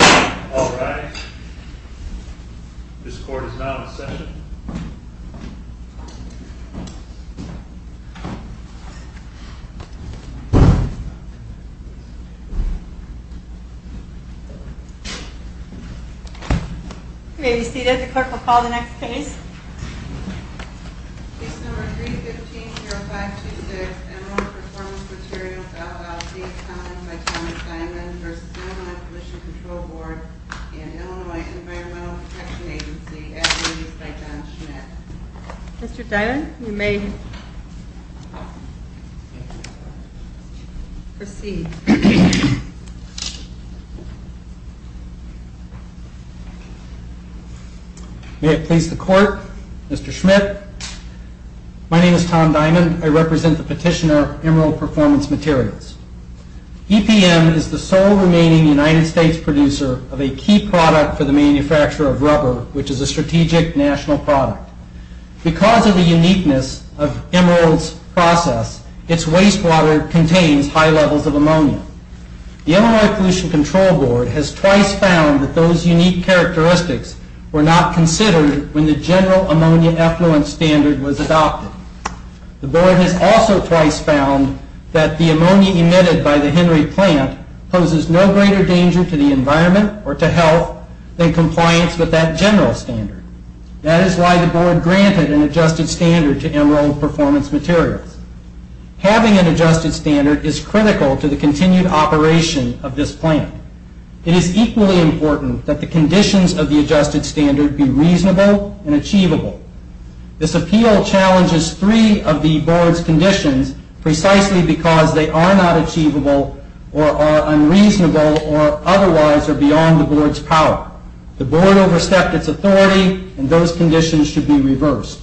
Alright, this court is now in session. You may be seated. The clerk will call the next case. Case number 315-0526, Emerald Performance Materials, LLC, found by Thomas Dimond v. Illinois Pollution Control Board and Illinois Environmental Protection Agency, as released by John Schmitt. Mr. Dimond, you may proceed. May it please the court, Mr. Schmitt. My name is Tom Dimond. I represent the petitioner Emerald Performance Materials. EPM is the sole remaining United States producer of a key product for the manufacture of rubber, which is a strategic national product. Because of the uniqueness of Emerald's process, its wastewater contains high levels of ammonia. The Illinois Pollution Control Board has twice found that those unique characteristics were not considered when the general ammonia effluent standard was adopted. The board has also twice found that the ammonia emitted by the Henry plant poses no greater danger to the environment or to health than compliance with that general standard. That is why the board granted an adjusted standard to Emerald Performance Materials. Having an adjusted standard is critical to the continued operation of this plant. It is equally important that the conditions of the adjusted standard be reasonable and achievable. This appeal challenges three of the board's conditions precisely because they are not achievable or are unreasonable or otherwise are beyond the board's power. The board overstepped its authority and those conditions should be reversed.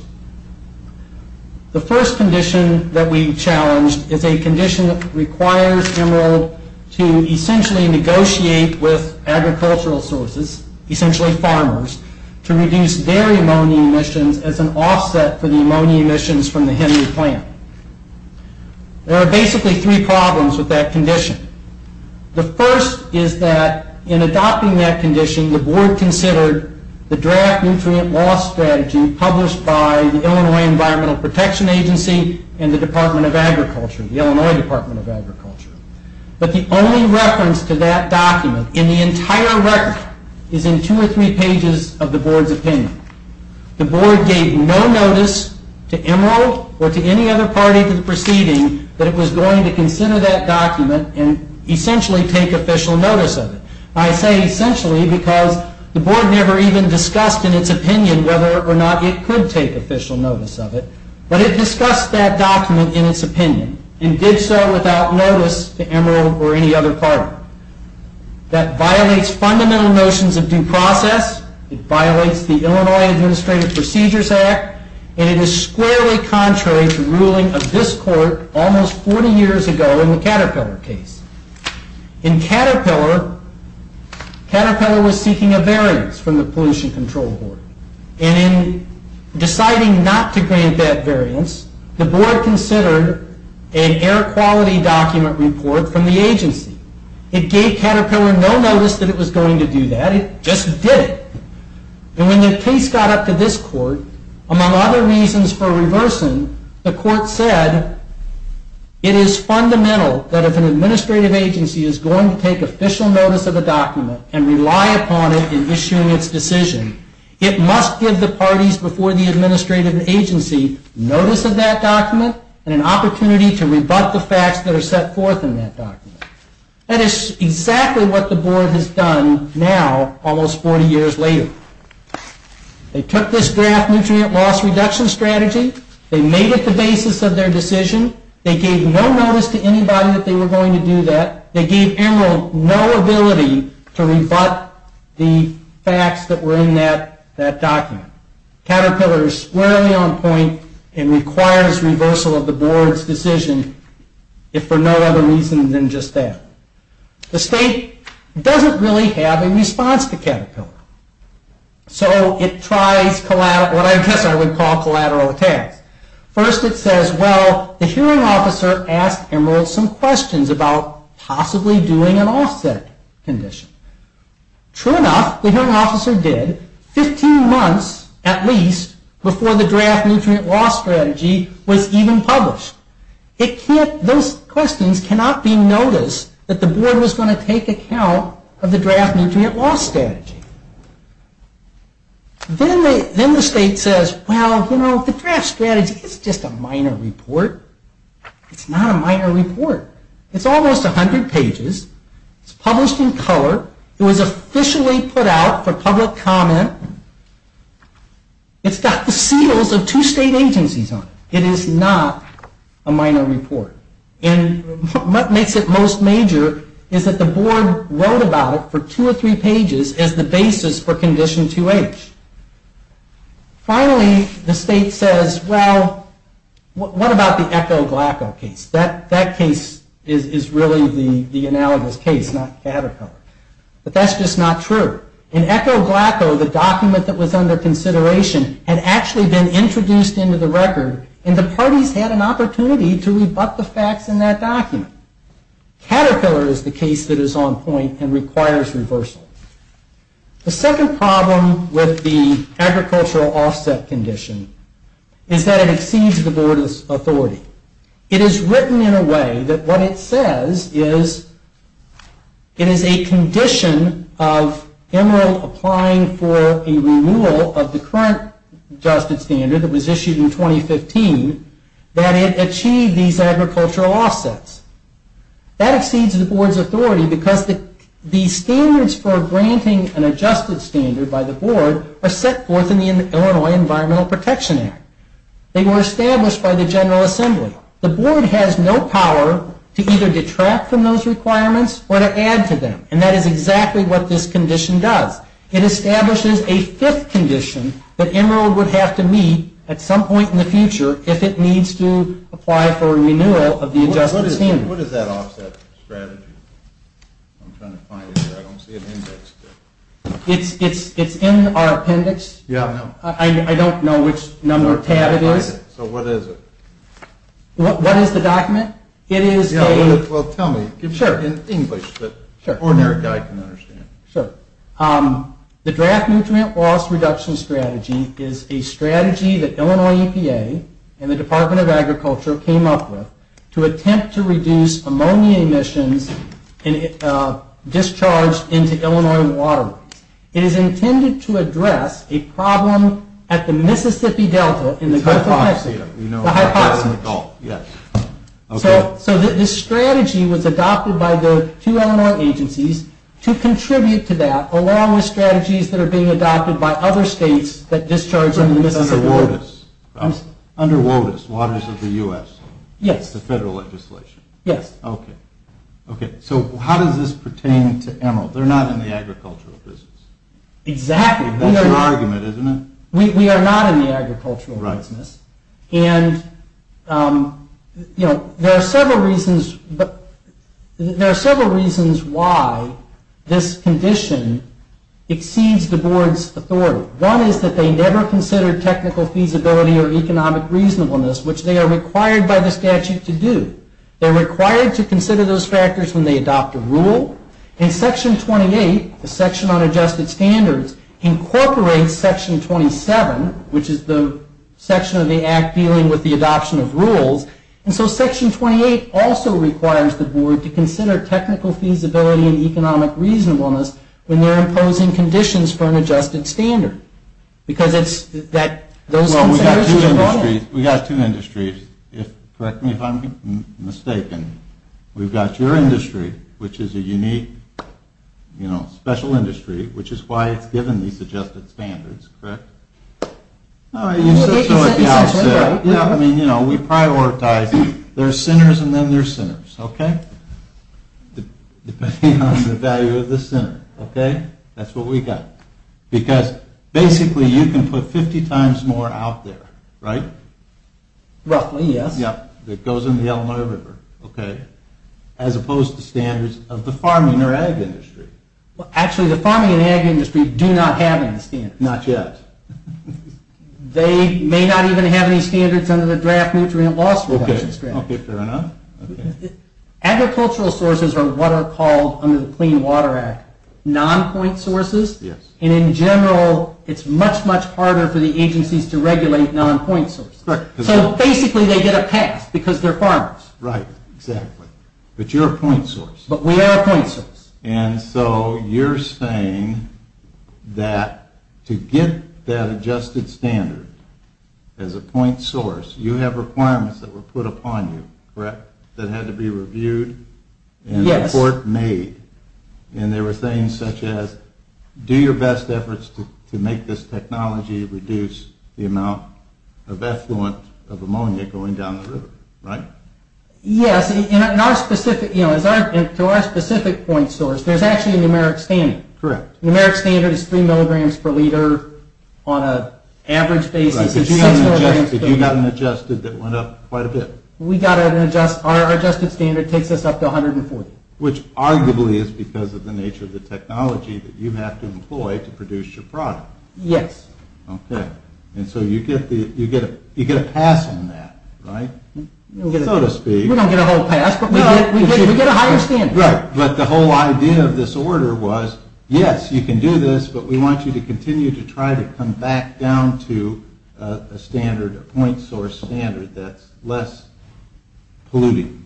The first condition that we challenged is a condition that requires Emerald to essentially negotiate with agricultural sources, essentially farmers, to reduce their ammonia emissions as an offset for the ammonia emissions from the Henry plant. There are basically three problems with that condition. The first is that in adopting that condition, the board considered the draft nutrient loss strategy published by the Illinois Environmental Protection Agency and the Department of Agriculture, the Illinois Department of Agriculture. But the only reference to that document in the entire record is in two or three pages of the board's opinion. The board gave no notice to Emerald or to any other party to the proceeding that it was going to consider that document and essentially take official notice of it. I say essentially because the board never even discussed in its opinion whether or not it could take official notice of it, but it discussed that document in its opinion and did so without notice to Emerald or any other party. That violates fundamental notions of due process, it violates the Illinois Administrative Procedures Act, and it is squarely contrary to ruling of this court almost 40 years ago in the Caterpillar case. In Caterpillar, Caterpillar was seeking a variance from the Pollution Control Board. In deciding not to grant that variance, the board considered an air quality document report from the agency. It gave Caterpillar no notice that it was going to do that, it just did it. And when the case got up to this court, among other reasons for reversing, the court said it is fundamental that if an administrative agency is going to take official notice of a document and rely upon it in issuing its decision, it must give the parties before the administrative agency notice of that document and an opportunity to rebut the facts that are set forth in that document. That is exactly what the board has done now almost 40 years later. They took this draft nutrient loss reduction strategy, they made it the basis of their decision, they gave no notice to anybody that they were going to do that, they gave Emerald no ability to rebut the facts that were in that document. Caterpillar is squarely on point and requires reversal of the board's decision, if for no other reason than just that. The state doesn't really have a response to Caterpillar. So it tries what I guess I would call collateral attacks. First it says, well, the hearing officer asked Emerald some questions about possibly doing an offset condition. True enough, the hearing officer did, 15 months at least before the draft nutrient loss strategy was even published. Those questions cannot be noticed that the board was going to take account of the draft nutrient loss strategy. Then the state says, well, you know, the draft strategy is just a minor report. It's not a minor report. It's almost 100 pages. It's published in color. It was officially put out for public comment. It's got the seals of two state agencies on it. It is not a minor report. And what makes it most major is that the board wrote about it for two or three pages as the basis for condition 2H. Finally, the state says, well, what about the Echo-Glaco case? That case is really the analogous case, not Caterpillar. But that's just not true. In Echo-Glaco, the document that was under consideration had actually been introduced into the record, and the parties had an opportunity to rebut the facts in that document. Caterpillar is the case that is on point and requires reversal. The second problem with the agricultural offset condition is that it exceeds the board's authority. It is written in a way that what it says is it is a condition of Emerald applying for a renewal of the current justice standard that was issued in 2015 that it achieved these agricultural offsets. That exceeds the board's authority because the standards for granting an adjusted standard by the board are set forth in the Illinois Environmental Protection Act. They were established by the General Assembly. The board has no power to either detract from those requirements or to add to them, and that is exactly what this condition does. It establishes a fifth condition that Emerald would have to meet at some point in the future if it needs to apply for a renewal of the adjusted standard. What is that offset strategy? I'm trying to find it here. I don't see an index. It's in our appendix. Yeah, I know. I don't know which number tab it is. So what is it? What is the document? It is a... Well, tell me. Sure. In English that an ordinary guy can understand. Sure. The Draft Nutrient Loss Reduction Strategy is a strategy that Illinois EPA and the Department of Agriculture came up with to attempt to reduce ammonia emissions discharged into Illinois waterways. It is intended to address a problem at the Mississippi Delta in the Gulf of Mexico. The hypoxia. The hypoxia. Oh, yeah. So this strategy was adopted by the two Illinois agencies to contribute to that along with strategies that are being adopted by other states that discharge into the Mississippi Delta. Under WOTUS, Waters of the U.S. Yes. It's the federal legislation. Yes. Okay. So how does this pertain to Emerald? They're not in the agricultural business. Exactly. That's your argument, isn't it? We are not in the agricultural business. And, you know, there are several reasons why this condition exceeds the board's authority. One is that they never considered technical feasibility or economic reasonableness, which they are required by the statute to do. They're required to consider those factors when they adopt a rule. And Section 28, the Section on Adjusted Standards, incorporates Section 27, which is the section of the Act dealing with the adoption of rules. And so Section 28 also requires the board to consider technical feasibility and economic reasonableness when they're imposing conditions for an adjusted standard. Because it's that those considerations are brought in. Well, we've got two industries. Correct me if I'm mistaken. We've got your industry, which is a unique, you know, special industry, which is why it's given these adjusted standards, correct? You said so at the outset. Yeah, I mean, you know, we prioritize. There are sinners and then there are sinners, okay? Depending on the value of the sinner, okay? That's what we've got. Because basically you can put 50 times more out there, right? Roughly, yes. Yeah, that goes in the Illinois River, okay? As opposed to standards of the farming or ag industry. Actually, the farming and ag industry do not have any standards. Not yet. They may not even have any standards under the draft nutrient loss reduction strategy. Okay, fair enough. Agricultural sources are what are called under the Clean Water Act non-point sources. And in general, it's much, much harder for the agencies to regulate non-point sources. So basically they get a pass because they're farmers. Right, exactly. But you're a point source. But we are a point source. And so you're saying that to get that adjusted standard as a point source, you have requirements that were put upon you, correct, that had to be reviewed and a report made. Yes. And they were saying such as do your best efforts to make this technology reduce the amount of effluent of ammonia going down the river, right? Yes, and to our specific point source, there's actually a numeric standard. Correct. Numeric standard is 3 milligrams per liter on an average basis. Right, but you got an adjusted that went up quite a bit. We got an adjusted standard that takes us up to 140. Which arguably is because of the nature of the technology that you have to employ to produce your product. Yes. Okay, and so you get a pass on that, right? So to speak. We don't get a whole pass, but we get a higher standard. Right, but the whole idea of this order was, yes, you can do this, but we want you to continue to try to come back down to a standard, a point source standard that's less polluting.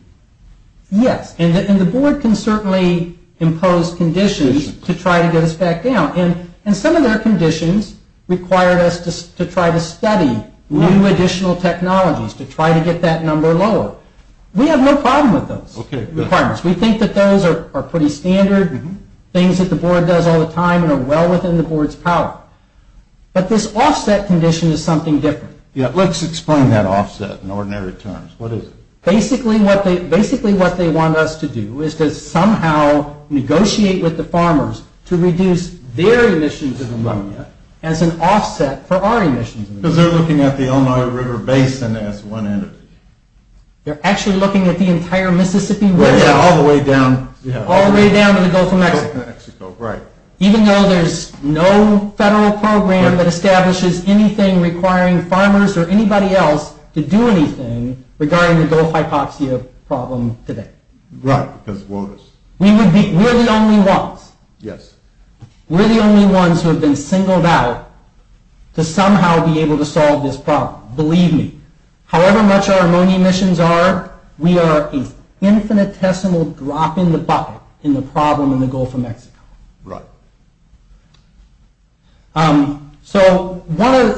Yes, and the board can certainly impose conditions to try to get us back down. And some of their conditions required us to try to study new additional technologies to try to get that number lower. We have no problem with those requirements. We think that those are pretty standard, things that the board does all the time and are well within the board's power. But this offset condition is something different. Yes, let's explain that offset in ordinary terms. What is it? Basically what they want us to do is to somehow negotiate with the farmers to reduce their emissions of ammonia as an offset for our emissions. Because they're looking at the Illinois River Basin as one entity. They're actually looking at the entire Mississippi River. Yes, all the way down. All the way down to the Gulf of Mexico. Even though there's no federal program that establishes anything requiring farmers or anybody else to do anything regarding the Gulf hypoxia problem today. Right, because of waters. We're the only ones. Yes. We're the only ones who have been singled out to somehow be able to solve this problem. Believe me, however much our ammonia emissions are, we are an infinitesimal drop in the bucket in the problem in the Gulf of Mexico. Right. So one of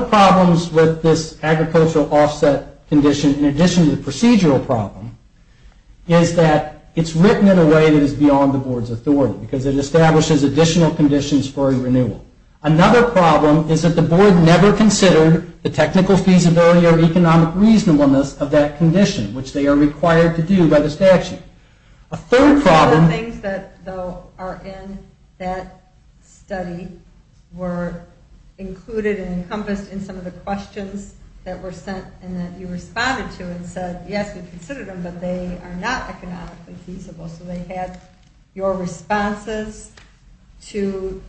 the problems with this agricultural offset condition, in addition to the procedural problem, is that it's written in a way that is beyond the board's authority. Because it establishes additional conditions for a renewal. Another problem is that the board never considered the technical feasibility or economic reasonableness of that condition, which they are required to do by the statute. A third problem... Some of the things that are in that study were included and encompassed in some of the questions that were sent and that you responded to and said, yes, we considered them, but they are not economically feasible. So they had your responses to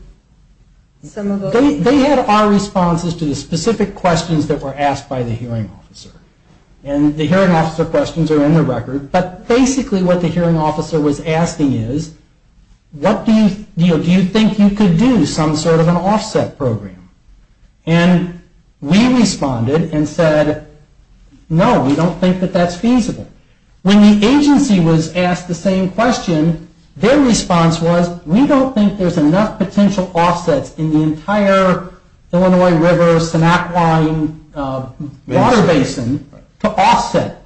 some of those... They had our responses to the specific questions that were asked by the hearing officer. And the hearing officer questions are in the record, but basically what the hearing officer was asking is, do you think you could do some sort of an offset program? And we responded and said, no, we don't think that that's feasible. When the agency was asked the same question, their response was, we don't think there's enough potential offsets in the entire Illinois River, Sennac line water basin to offset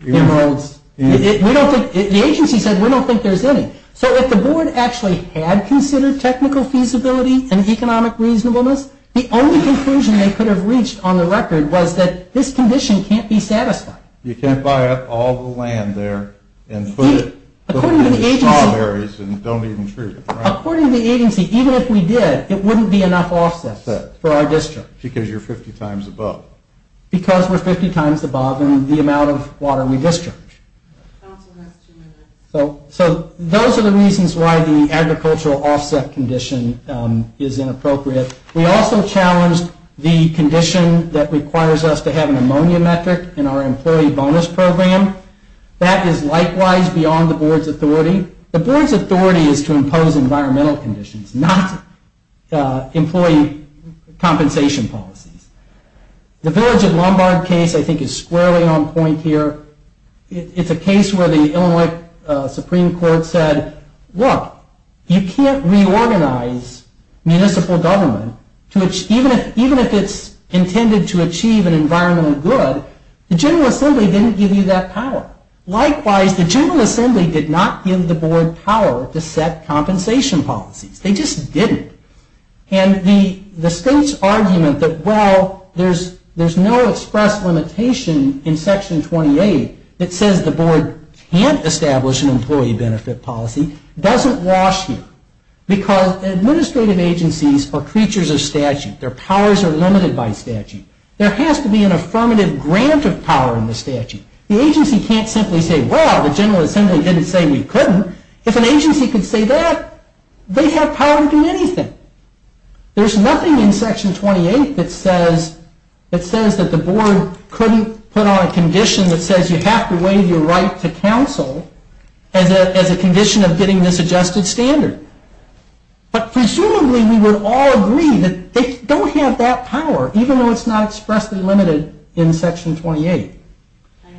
the enrolls. We don't think... The agency said, we don't think there's any. So if the board actually had considered technical feasibility and economic reasonableness, the only conclusion they could have reached on the record was that this condition can't be satisfied. You can't buy up all the land there and put it... According to the agency, even if we did, it wouldn't be enough offsets for our district. Because you're 50 times above. Because we're 50 times above in the amount of water we discharge. So those are the reasons why the agricultural offset condition is inappropriate. We also challenged the condition that requires us to have an ammonia metric in our employee bonus program. That is likewise beyond the board's authority. The board's authority is to impose environmental conditions, not employee compensation policies. The Village at Lombard case I think is squarely on point here. It's a case where the Illinois Supreme Court said, look, you can't reorganize municipal government to... Even if it's intended to achieve an environmental good, the General Assembly didn't give you that power. Likewise, the General Assembly did not give the board power to set compensation policies. They just didn't. And the state's argument that, well, there's no express limitation in Section 28 that says the board can't establish an employee benefit policy doesn't wash here. Because administrative agencies are creatures of statute. Their powers are limited by statute. There has to be an affirmative grant of power in the statute. The agency can't simply say, well, the General Assembly didn't say we couldn't. If an agency could say that, they'd have power to do anything. There's nothing in Section 28 that says that the board couldn't put on a condition that says you have to waive your right to counsel as a condition of getting this adjusted standard. But presumably we would all agree that they don't have that power, even though it's not expressly limited in Section 28. I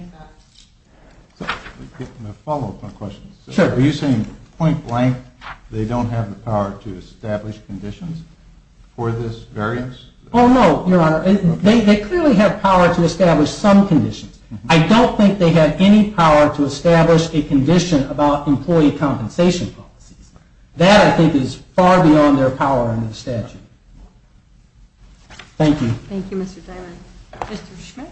have a follow-up question. Sure. Are you saying point blank they don't have the power to establish conditions for this variance? Oh, no, Your Honor. They clearly have power to establish some conditions. I don't think they have any power to establish a condition about employee compensation policies. That, I think, is far beyond their power under the statute. Thank you. Thank you, Mr. Diamond. Mr. Schmidt.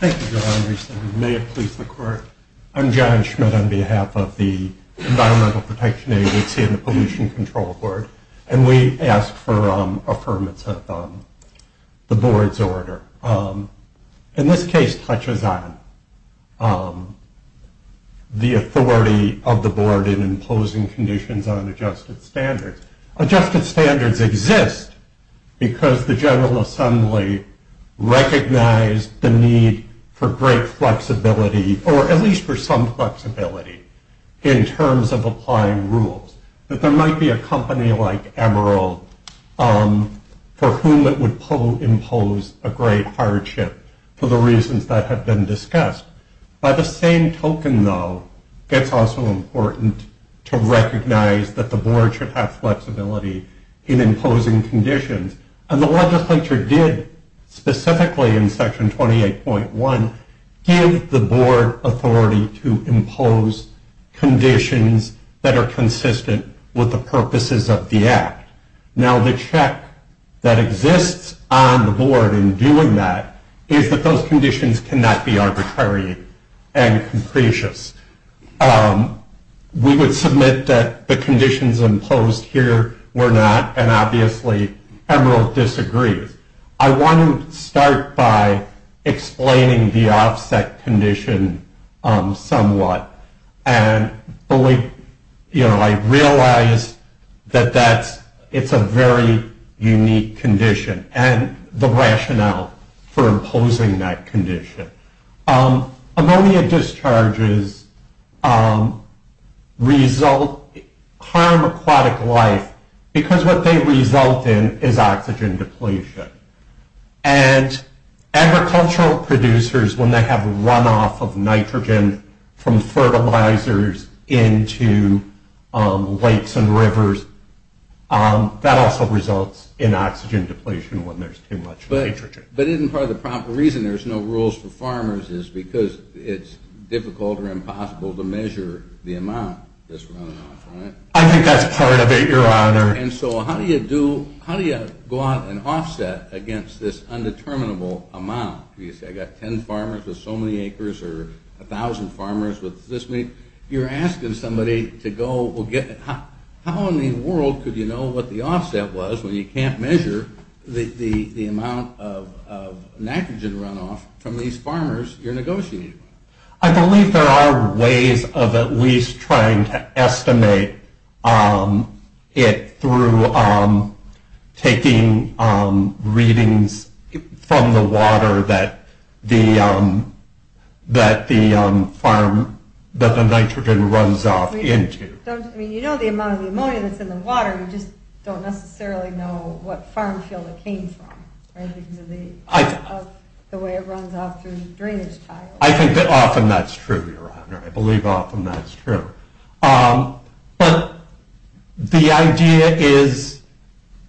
Thank you, Your Honor. May it please the Court. I'm John Schmidt on behalf of the Environmental Protection Agency and the Pollution Control Board, and we ask for affirmative of the board's order. And this case touches on the authority of the board in imposing conditions on adjusted standards. Adjusted standards exist because the General Assembly recognized the need for great flexibility, or at least for some flexibility, in terms of applying rules. That there might be a company like Emeril for whom it would impose a great hardship for the reasons that have been discussed. By the same token, though, it's also important to recognize that the board should have flexibility in imposing conditions. And the legislature did, specifically in Section 28.1, give the board authority to impose conditions that are consistent with the purposes of the act. Now, the check that exists on the board in doing that is that those conditions cannot be arbitrary and concretious. We would submit that the conditions imposed here were not, and obviously Emeril disagrees. I want to start by explaining the offset condition somewhat. And I realize that it's a very unique condition, and the rationale for imposing that condition. Ammonia discharges harm aquatic life because what they result in is oxygen depletion. And agricultural producers, when they have runoff of nitrogen from fertilizers into lakes and rivers, that also results in oxygen depletion when there's too much nitrogen. But isn't part of the proper reason there's no rules for farmers is because it's difficult or impossible to measure the amount that's running off, right? I think that's part of it, Your Honor. And so how do you go out and offset against this undeterminable amount? You say, I've got 10 farmers with so many acres or 1,000 farmers with this many. You're asking somebody to go, how in the world could you know what the offset was when you can't measure the amount of nitrogen runoff from these farmers you're negotiating with? I believe there are ways of at least trying to estimate it through taking readings from the water that the nitrogen runs off into. I mean, you know the amount of ammonia that's in the water. You just don't necessarily know what farm field it came from, right, because of the way it runs off through the drainage tile. I think that often that's true, Your Honor. I believe often that's true. But the idea is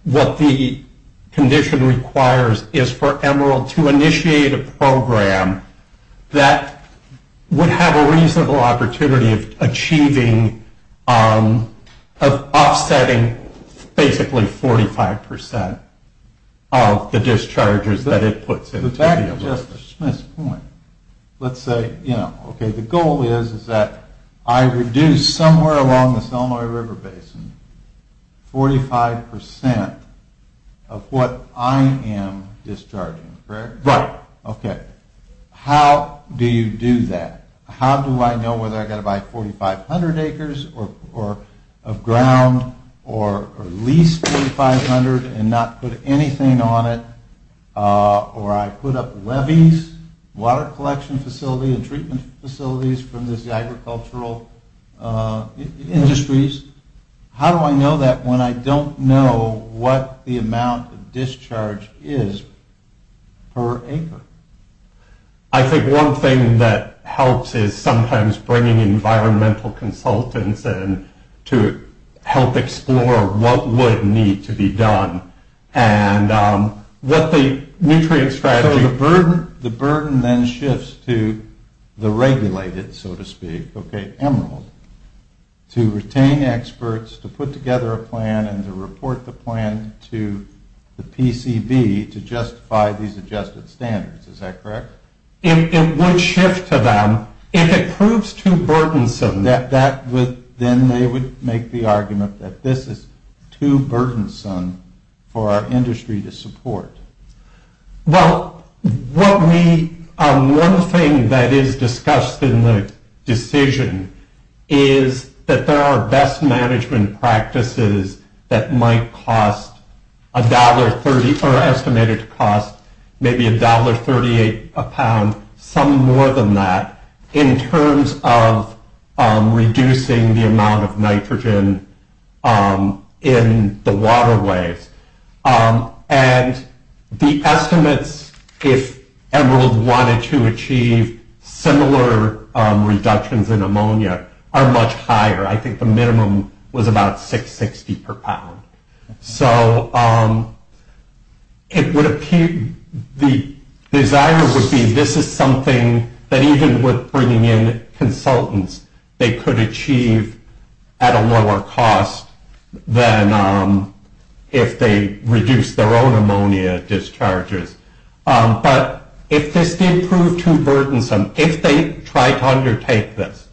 what the condition requires is for Emeril to initiate a program that would have a reasonable opportunity of achieving, of offsetting basically 45% of the discharges that it puts into the river. But back to Justice Smith's point. Let's say, you know, okay, the goal is that I reduce somewhere along this Illinois River Basin 45% of what I am discharging, correct? Right. Okay. How do you do that? How do I know whether I've got to buy 4,500 acres of ground or lease 4,500 and not put anything on it? Or I put up levees, water collection facility and treatment facilities from these agricultural industries? How do I know that when I don't know what the amount of discharge is per acre? I think one thing that helps is sometimes bringing environmental consultants in to help explore what would need to be done and what the nutrient strategy... So the burden then shifts to the regulated, so to speak, okay, Emeril, to retain experts, to put together a plan, and to report the plan to the PCB to justify these adjusted standards. Is that correct? It would shift to them. If it proves too burdensome, then they would make the argument that this is too burdensome for our industry to support. Well, one thing that is discussed in the decision is that there are best management practices that might cost $1.30, or estimated to cost maybe $1.38 a pound, some more than that, in terms of reducing the amount of nitrogen in the waterways. And the estimates, if Emeril wanted to achieve similar reductions in ammonia, are much higher. I think the minimum was about $6.60 per pound. So the desire would be this is something that even with bringing in consultants, they could achieve at a lower cost than if they reduced their own ammonia discharges. But if this did prove too burdensome, if they tried to undertake this,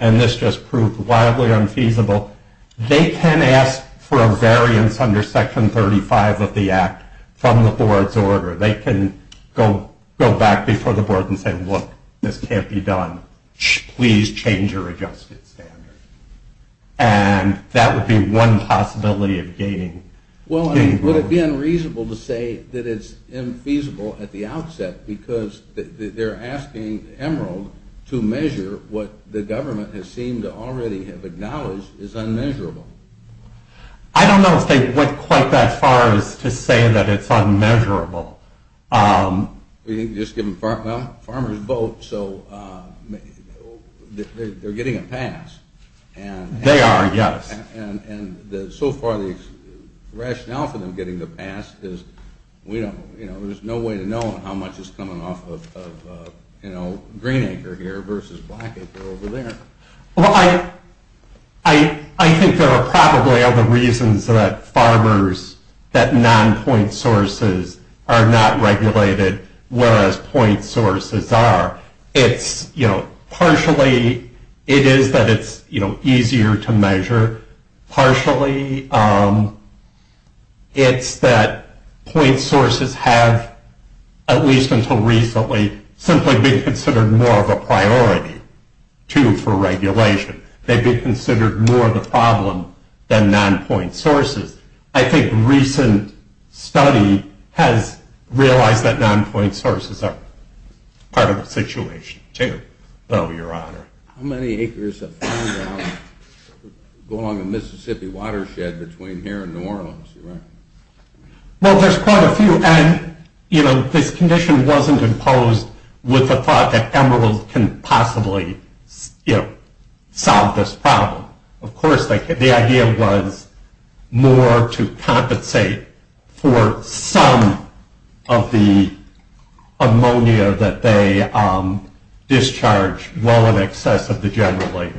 and this just proved wildly unfeasible, they can ask for a variance under Section 35 of the Act from the board's order. They can go back before the board and say, look, this can't be done. Please change your adjusted standards. And that would be one possibility of gaining... Well, would it be unreasonable to say that it's infeasible at the outset, because they're asking Emeril to measure what the government has seemed to already have acknowledged is unmeasurable. I don't know if they went quite that far as to say that it's unmeasurable. Well, farmers vote, so they're getting a pass. They are, yes. And so far the rationale for them getting the pass is there's no way to know how much is coming off of green acre here versus black acre over there. Well, I think there are probably other reasons that farmers, that non-point sources are not regulated, whereas point sources are. Partially, it is that it's easier to measure. Partially, it's that point sources have, at least until recently, simply been considered more of a priority, too, for regulation. They've been considered more of a problem than non-point sources. I think recent study has realized that non-point sources are part of the situation, too, though, Your Honor. How many acres of farmland go along the Mississippi watershed between here and New Orleans, Your Honor? Well, there's quite a few, and this condition wasn't imposed with the thought that Emeril can possibly solve this problem. Of course, the idea was more to compensate for some of the ammonia that they discharge well in excess of the generally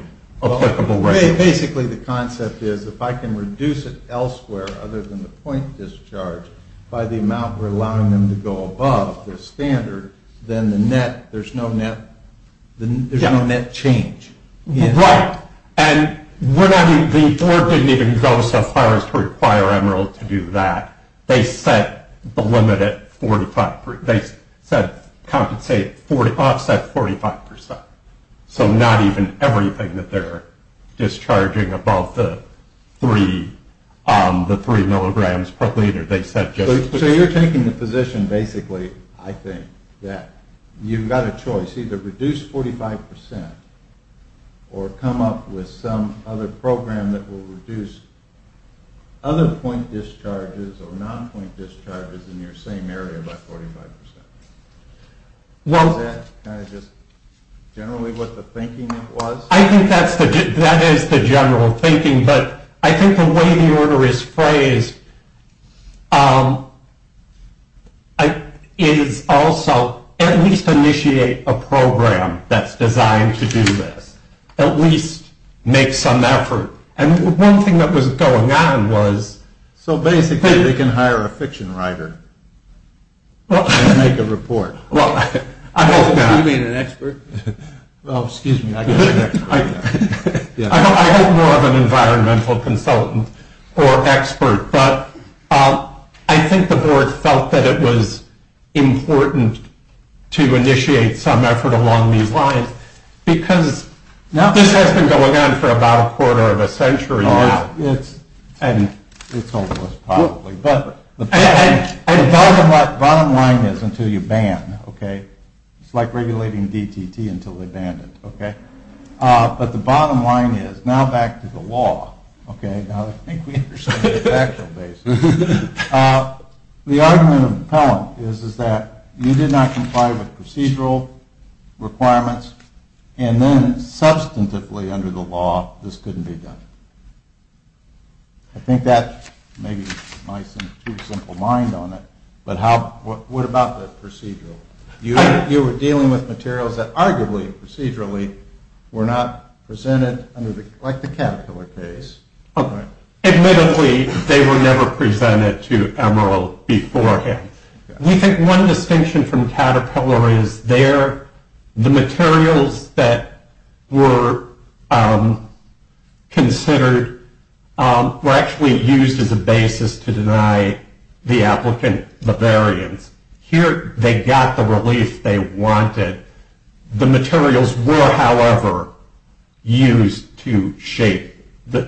applicable rate. Basically, the concept is if I can reduce it elsewhere other than the point discharge by the amount we're allowing them to go above the standard, then there's no net change. Right, and the board didn't even go so far as to require Emeril to do that. They said offset 45%, so not even everything that they're discharging above the three milligrams per liter. So you're taking the position, basically, I think, that you've got a choice, either reduce 45% or come up with some other program that will reduce other point discharges or non-point discharges in your same area by 45%. Is that kind of just generally what the thinking was? I think that is the general thinking, but I think the way the order is phrased is also at least initiate a program that's designed to do this. At least make some effort, and one thing that was going on was... So basically, they can hire a fiction writer and make a report. You mean an expert? Oh, excuse me. I hope more of an environmental consultant or expert, but I think the board felt that it was important to initiate some effort along these lines because this has been going on for about a quarter of a century now. It's hopeless probably, but the bottom line is until you ban, okay? It's like regulating DTT until they ban it, okay? But the bottom line is, now back to the law, okay? Now I think we understand the factual basis. The argument of the appellant is that you did not comply with procedural requirements, and then substantively under the law, this couldn't be done. I think that may be my simple mind on it, but what about the procedural? You were dealing with materials that arguably procedurally were not presented under the, like the caterpillar case. Admittedly, they were never presented to Emerald beforehand. We think one distinction from caterpillar is the materials that were considered were actually used as a basis to deny the applicant the variance. Here they got the relief they wanted. The materials were, however, used to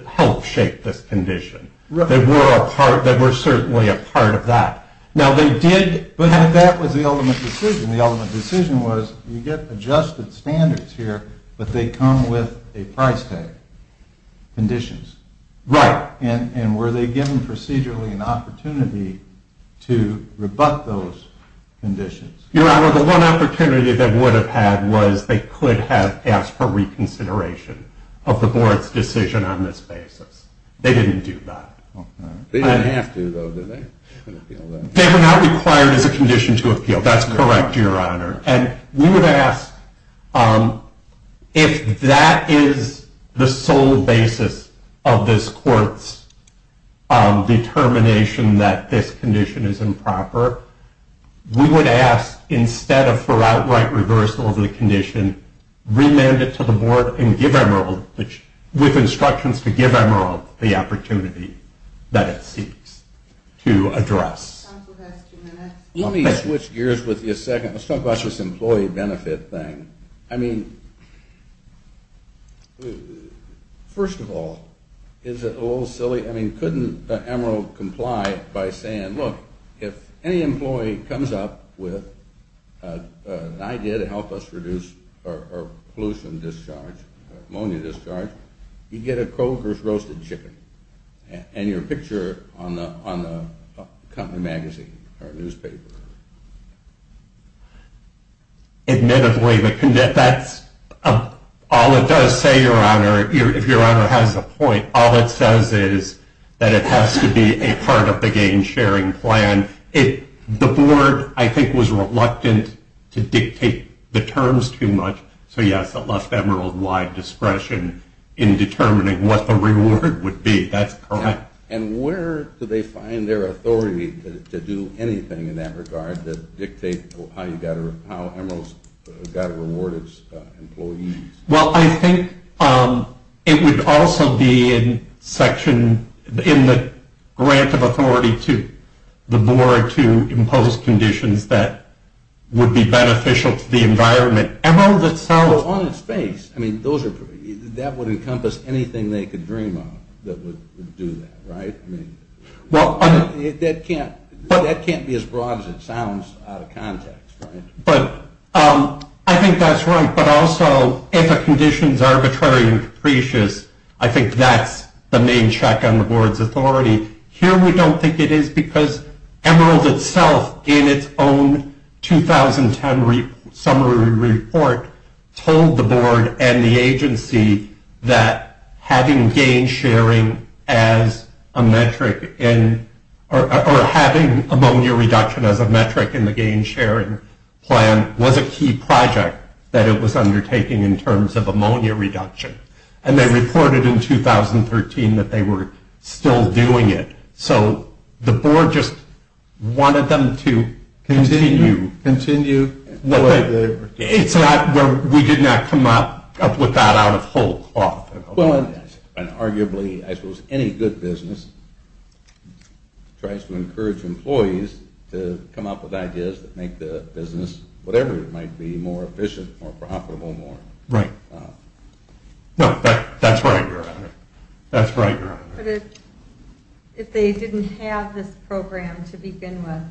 help shape this condition. They were certainly a part of that. Now they did, but that was the ultimate decision. The ultimate decision was you get adjusted standards here, but they come with a price tag conditions. Right. And were they given procedurally an opportunity to rebut those conditions? Your Honor, the one opportunity they would have had was they could have asked for reconsideration of the board's decision on this basis. They didn't do that. They didn't have to, though, did they? They were not required as a condition to appeal. That's correct, Your Honor. And we would ask if that is the sole basis of this court's determination that this condition is improper, we would ask instead of for outright reversal of the condition, remand it to the board and give Emerald, with instructions to give Emerald the opportunity that it seeks to address. Counsel has two minutes. Let me switch gears with you a second. Let's talk about this employee benefit thing. I mean, first of all, is it a little silly? I mean, couldn't Emerald comply by saying, look, if any employee comes up with an idea to help us reduce our pollution discharge, ammonia discharge, you get a Kroger's roasted chicken and your picture on the company magazine or newspaper. Admittedly, that's all it does say, Your Honor. If Your Honor has a point, all it says is that it has to be a part of the gain-sharing plan. The board, I think, was reluctant to dictate the terms too much. So, yes, it left Emerald wide discretion in determining what the reward would be. That's correct. And where do they find their authority to do anything in that regard that dictates how Emerald has got to reward its employees? Well, I think it would also be in the grant of authority to the board to impose conditions that would be beneficial to the environment. Emerald itself... Well, on its face. I mean, that would encompass anything they could dream of that would do that, right? I mean, that can't be as broad as it sounds out of context, right? But I think that's right. But also, if a condition is arbitrary and capricious, I think that's the main check on the board's authority. Here we don't think it is because Emerald itself, in its own 2010 summary report, told the board and the agency that having gain-sharing as a metric in... or having ammonia reduction as a metric in the gain-sharing plan was a key project that it was undertaking in terms of ammonia reduction. And they reported in 2013 that they were still doing it. So the board just wanted them to continue. Continue the way they were doing it. It's not where we did not come up with that out of whole cloth. Well, and arguably, I suppose any good business tries to encourage employees to come up with ideas that make the business, whatever it might be, more efficient, more profitable, more... Right. No, that's right, Your Honor. That's right, Your Honor. But if they didn't have this program to begin with,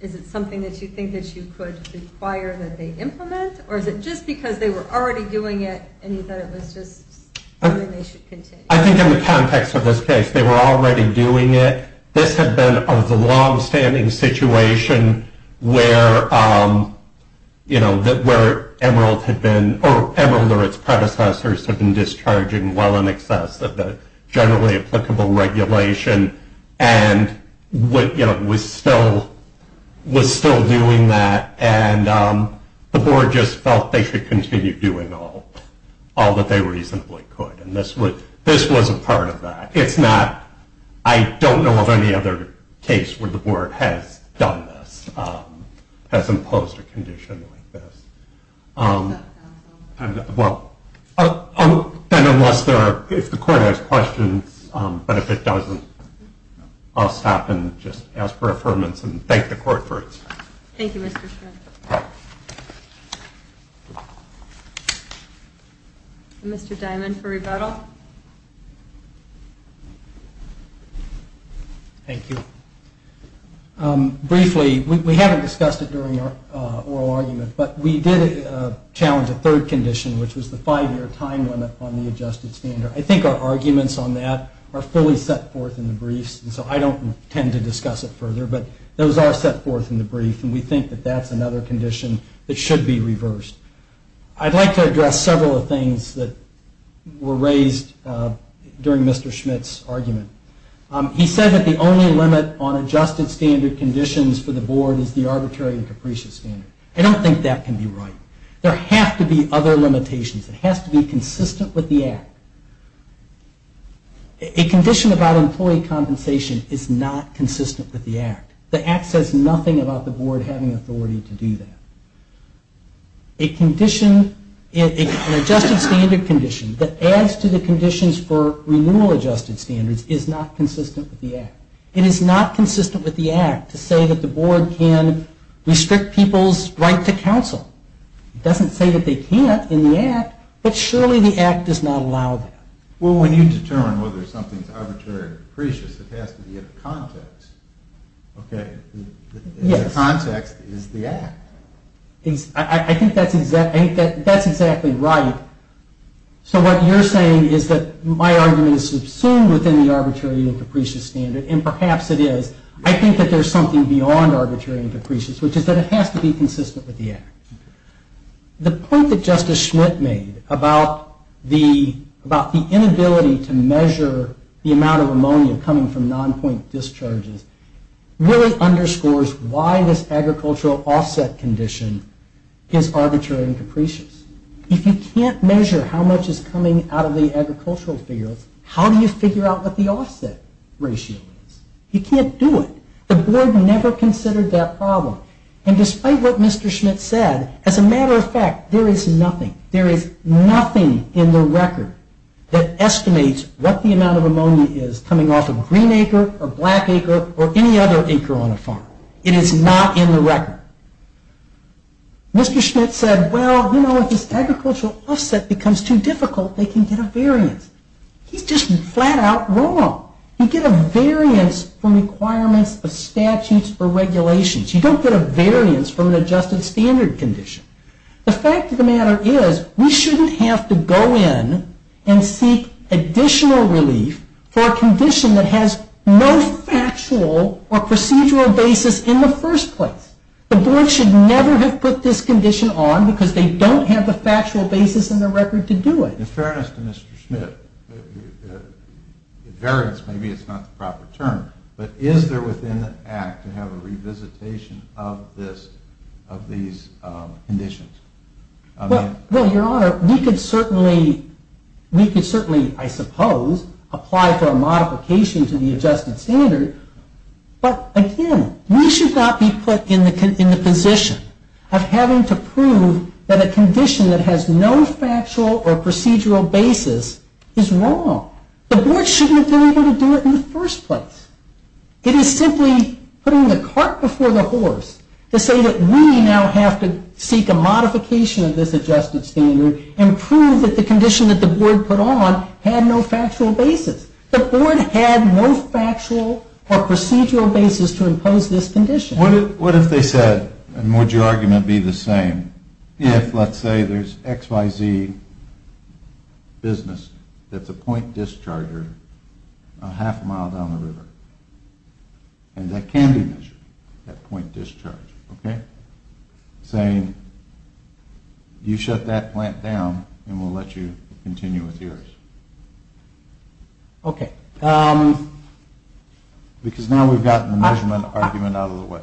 is it something that you think that you could require that they implement? Or is it just because they were already doing it and you thought it was just something they should continue? I think in the context of this case, they were already doing it. This had been a longstanding situation where, you know, where Emerald had been... generally applicable regulation and, you know, was still doing that. And the board just felt they should continue doing all that they reasonably could. And this was a part of that. It's not... I don't know of any other case where the board has done this, has imposed a condition like this. And, well, unless there are... If the court has questions, but if it doesn't, I'll stop and just ask for affirmation and thank the court for its... Thank you, Mr. Strickland. All right. Mr. Diamond for rebuttal. Thank you. Briefly, we haven't discussed it during our oral argument, but we did challenge a third condition, which was the five-year time limit on the adjusted standard. I think our arguments on that are fully set forth in the briefs, and so I don't intend to discuss it further. But those are set forth in the brief, and we think that that's another condition that should be reversed. I'd like to address several of the things that were raised during Mr. Schmidt's argument. He said that the only limit on adjusted standard conditions for the board is the arbitrary and capricious standard. I don't think that can be right. There have to be other limitations. It has to be consistent with the Act. A condition about employee compensation is not consistent with the Act. The Act says nothing about the board having authority to do that. An adjusted standard condition that adds to the conditions for renewal adjusted standards is not consistent with the Act. It is not consistent with the Act to say that the board can restrict people's right to counsel. It doesn't say that they can't in the Act, but surely the Act does not allow that. Well, when you determine whether something is arbitrary or capricious, it has to be in context. Yes. The context is the Act. I think that's exactly right. So what you're saying is that my argument is subsumed within the arbitrary and capricious standard, and perhaps it is. I think that there's something beyond arbitrary and capricious, which is that it has to be consistent with the Act. The point that Justice Schmidt made about the inability to measure the amount of ammonia coming from non-point discharges really underscores why this agricultural offset condition is arbitrary and capricious. If you can't measure how much is coming out of the agricultural fields, how do you figure out what the offset ratio is? You can't do it. The board never considered that problem. And despite what Mr. Schmidt said, as a matter of fact, there is nothing. There is nothing in the record that estimates what the amount of ammonia is coming off of green acre or black acre or any other acre on a farm. It is not in the record. Mr. Schmidt said, well, you know, if this agricultural offset becomes too difficult, they can get a variance. He's just flat out wrong. You get a variance from requirements of statutes or regulations. You don't get a variance from an adjusted standard condition. The fact of the matter is we shouldn't have to go in and seek additional relief for a condition that has no factual or procedural basis in the first place. The board should never have put this condition on because they don't have the factual basis in the record to do it. In fairness to Mr. Schmidt, variance, maybe it's not the proper term, but is there within the act to have a revisitation of this, of these conditions? Well, your honor, we could certainly, we could certainly, I suppose, apply for a modification to the adjusted standard. But again, we should not be put in the position of having to prove that a condition that has no factual or procedural basis is wrong. The board shouldn't have been able to do it in the first place. It is simply putting the cart before the horse to say that we now have to seek a modification of this adjusted standard and prove that the condition that the board put on had no factual basis. The board had no factual or procedural basis to impose this condition. What if they said, and would your argument be the same, if let's say there's XYZ business that's a point discharger a half mile down the river, and that can be measured, that point discharge, okay, saying you shut that plant down and we'll let you continue with yours? Okay. Because now we've gotten the measurement argument out of the way.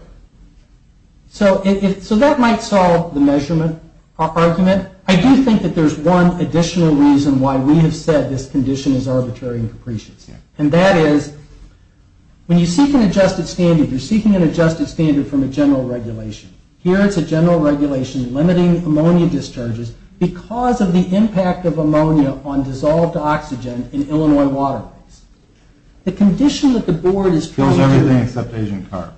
So that might solve the measurement argument. I do think that there's one additional reason why we have said this condition is arbitrary and capricious. And that is, when you seek an adjusted standard, you're seeking an adjusted standard from a general regulation. Here it's a general regulation limiting ammonia discharges because of the impact of ammonia on dissolved oxygen in Illinois waterways. The condition that the board is trying to... It kills everything except Asian carbs.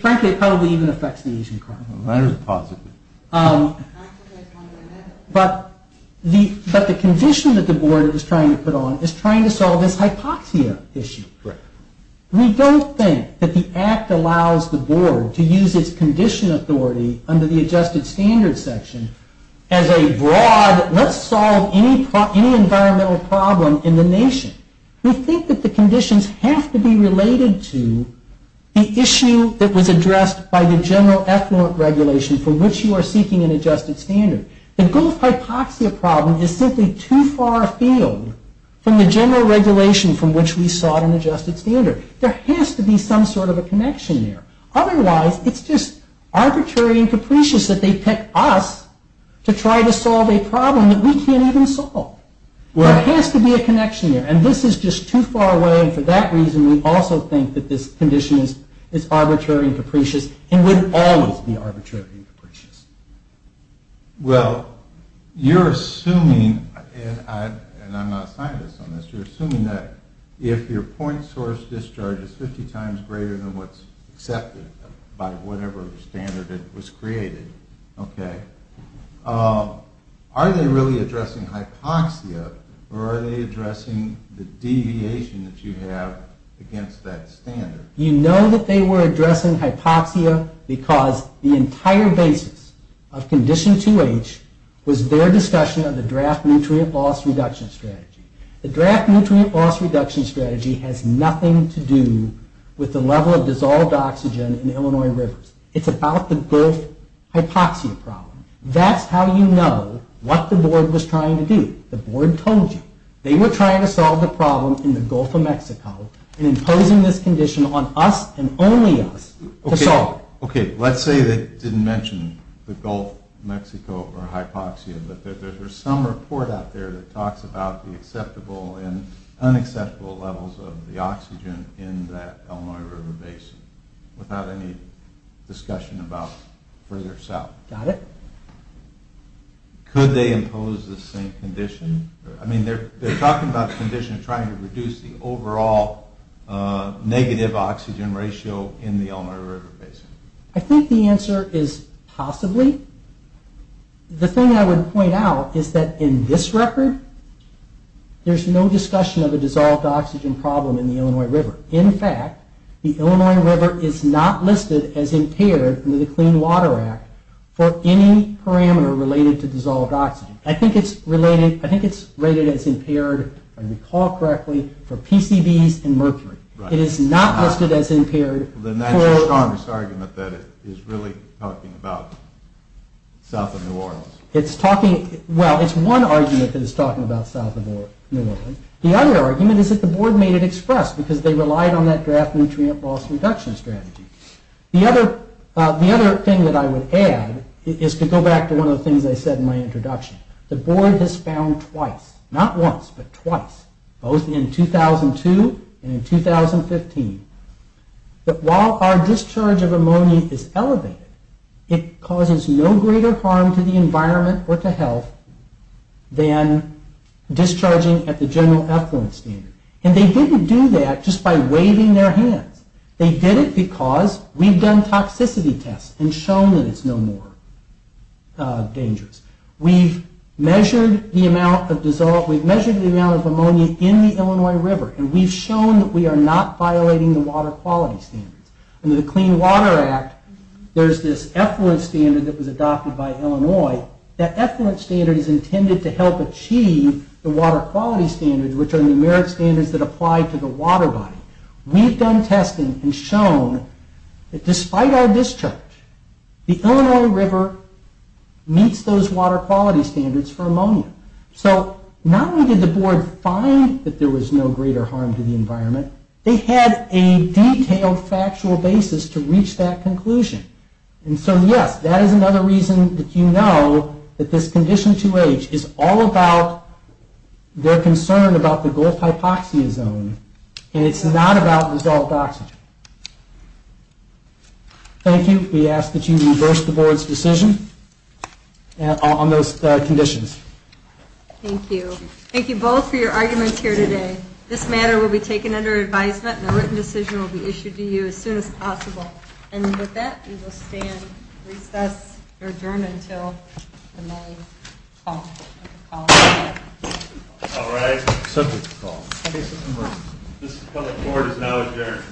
Frankly, it probably even affects the Asian carbs. That is positive. But the condition that the board is trying to put on is trying to solve this hypoxia issue. We don't think that the act allows the board to use its condition authority under the adjusted standard section as a broad... Let's solve any environmental problem in the nation. We think that the conditions have to be related to the issue that was addressed by the general effluent regulation for which you are seeking an adjusted standard. The Gulf hypoxia problem is simply too far afield from the general regulation from which we sought an adjusted standard. There has to be some sort of a connection there. Otherwise, it's just arbitrary and capricious that they pick us to try to solve a problem that we can't even solve. There has to be a connection there. This is just too far away. For that reason, we also think that this condition is arbitrary and capricious and would always be arbitrary and capricious. Well, you're assuming, and I'm not a scientist on this, you're assuming that if your point source discharge is 50 times greater than what's accepted by whatever standard that was created, okay, are they really addressing hypoxia or are they addressing the deviation that you have against that standard? You know that they were addressing hypoxia because the entire basis of Condition 2H was their discussion of the draft nutrient loss reduction strategy. The draft nutrient loss reduction strategy has nothing to do with the level of dissolved oxygen in Illinois rivers. It's about the Gulf hypoxia problem. That's how you know what the board was trying to do. The board told you. They were trying to solve the problem in the Gulf of Mexico and imposing this condition on us and only us to solve it. Okay, let's say they didn't mention the Gulf, Mexico, or hypoxia, but there's some report out there that talks about the acceptable and unacceptable levels of the oxygen in that Illinois river basin without any discussion about further south. Got it. Could they impose the same condition? I mean, they're talking about the condition trying to reduce the overall negative oxygen ratio in the Illinois river basin. I think the answer is possibly. The thing I would point out is that in this record, there's no discussion of a dissolved oxygen problem in the Illinois river. In fact, the Illinois river is not listed as impaired under the Clean Water Act for any parameter related to dissolved oxygen. I think it's rated as impaired, if I recall correctly, for PCBs and mercury. It is not listed as impaired. Then that's your strongest argument that it is really talking about south of New Orleans. Well, it's one argument that it's talking about south of New Orleans. The other argument is that the board made it expressed because they relied on that draft nutrient loss reduction strategy. The other thing that I would add is to go back to one of the things I said in my introduction. The board has found twice, not once, but twice, both in 2002 and in 2015, that while our discharge of ammonia is elevated, it causes no greater harm to the environment or to health than discharging at the general effluent standard. And they didn't do that just by waving their hands. They did it because we've done toxicity tests and shown that it's no more dangerous. We've measured the amount of ammonia in the Illinois River, and we've shown that we are not violating the water quality standards. Under the Clean Water Act, there's this effluent standard that was adopted by Illinois. That effluent standard is intended to help achieve the water quality standards, which are numeric standards that apply to the water body. We've done testing and shown that despite our discharge, the Illinois River meets those water quality standards for ammonia. So not only did the board find that there was no greater harm to the environment, they had a detailed factual basis to reach that conclusion. And so, yes, that is another reason that you know that this Condition 2H is all about their concern about the Gulf hypoxia zone, and it's not about dissolved oxygen. Thank you. We ask that you reverse the board's decision on those conditions. Thank you. Thank you both for your arguments here today. This matter will be taken under advisement, And with that, we will stand, recess, adjourn until the meeting is called. All right. Subject to call. Case number, this appellate board is now adjourned.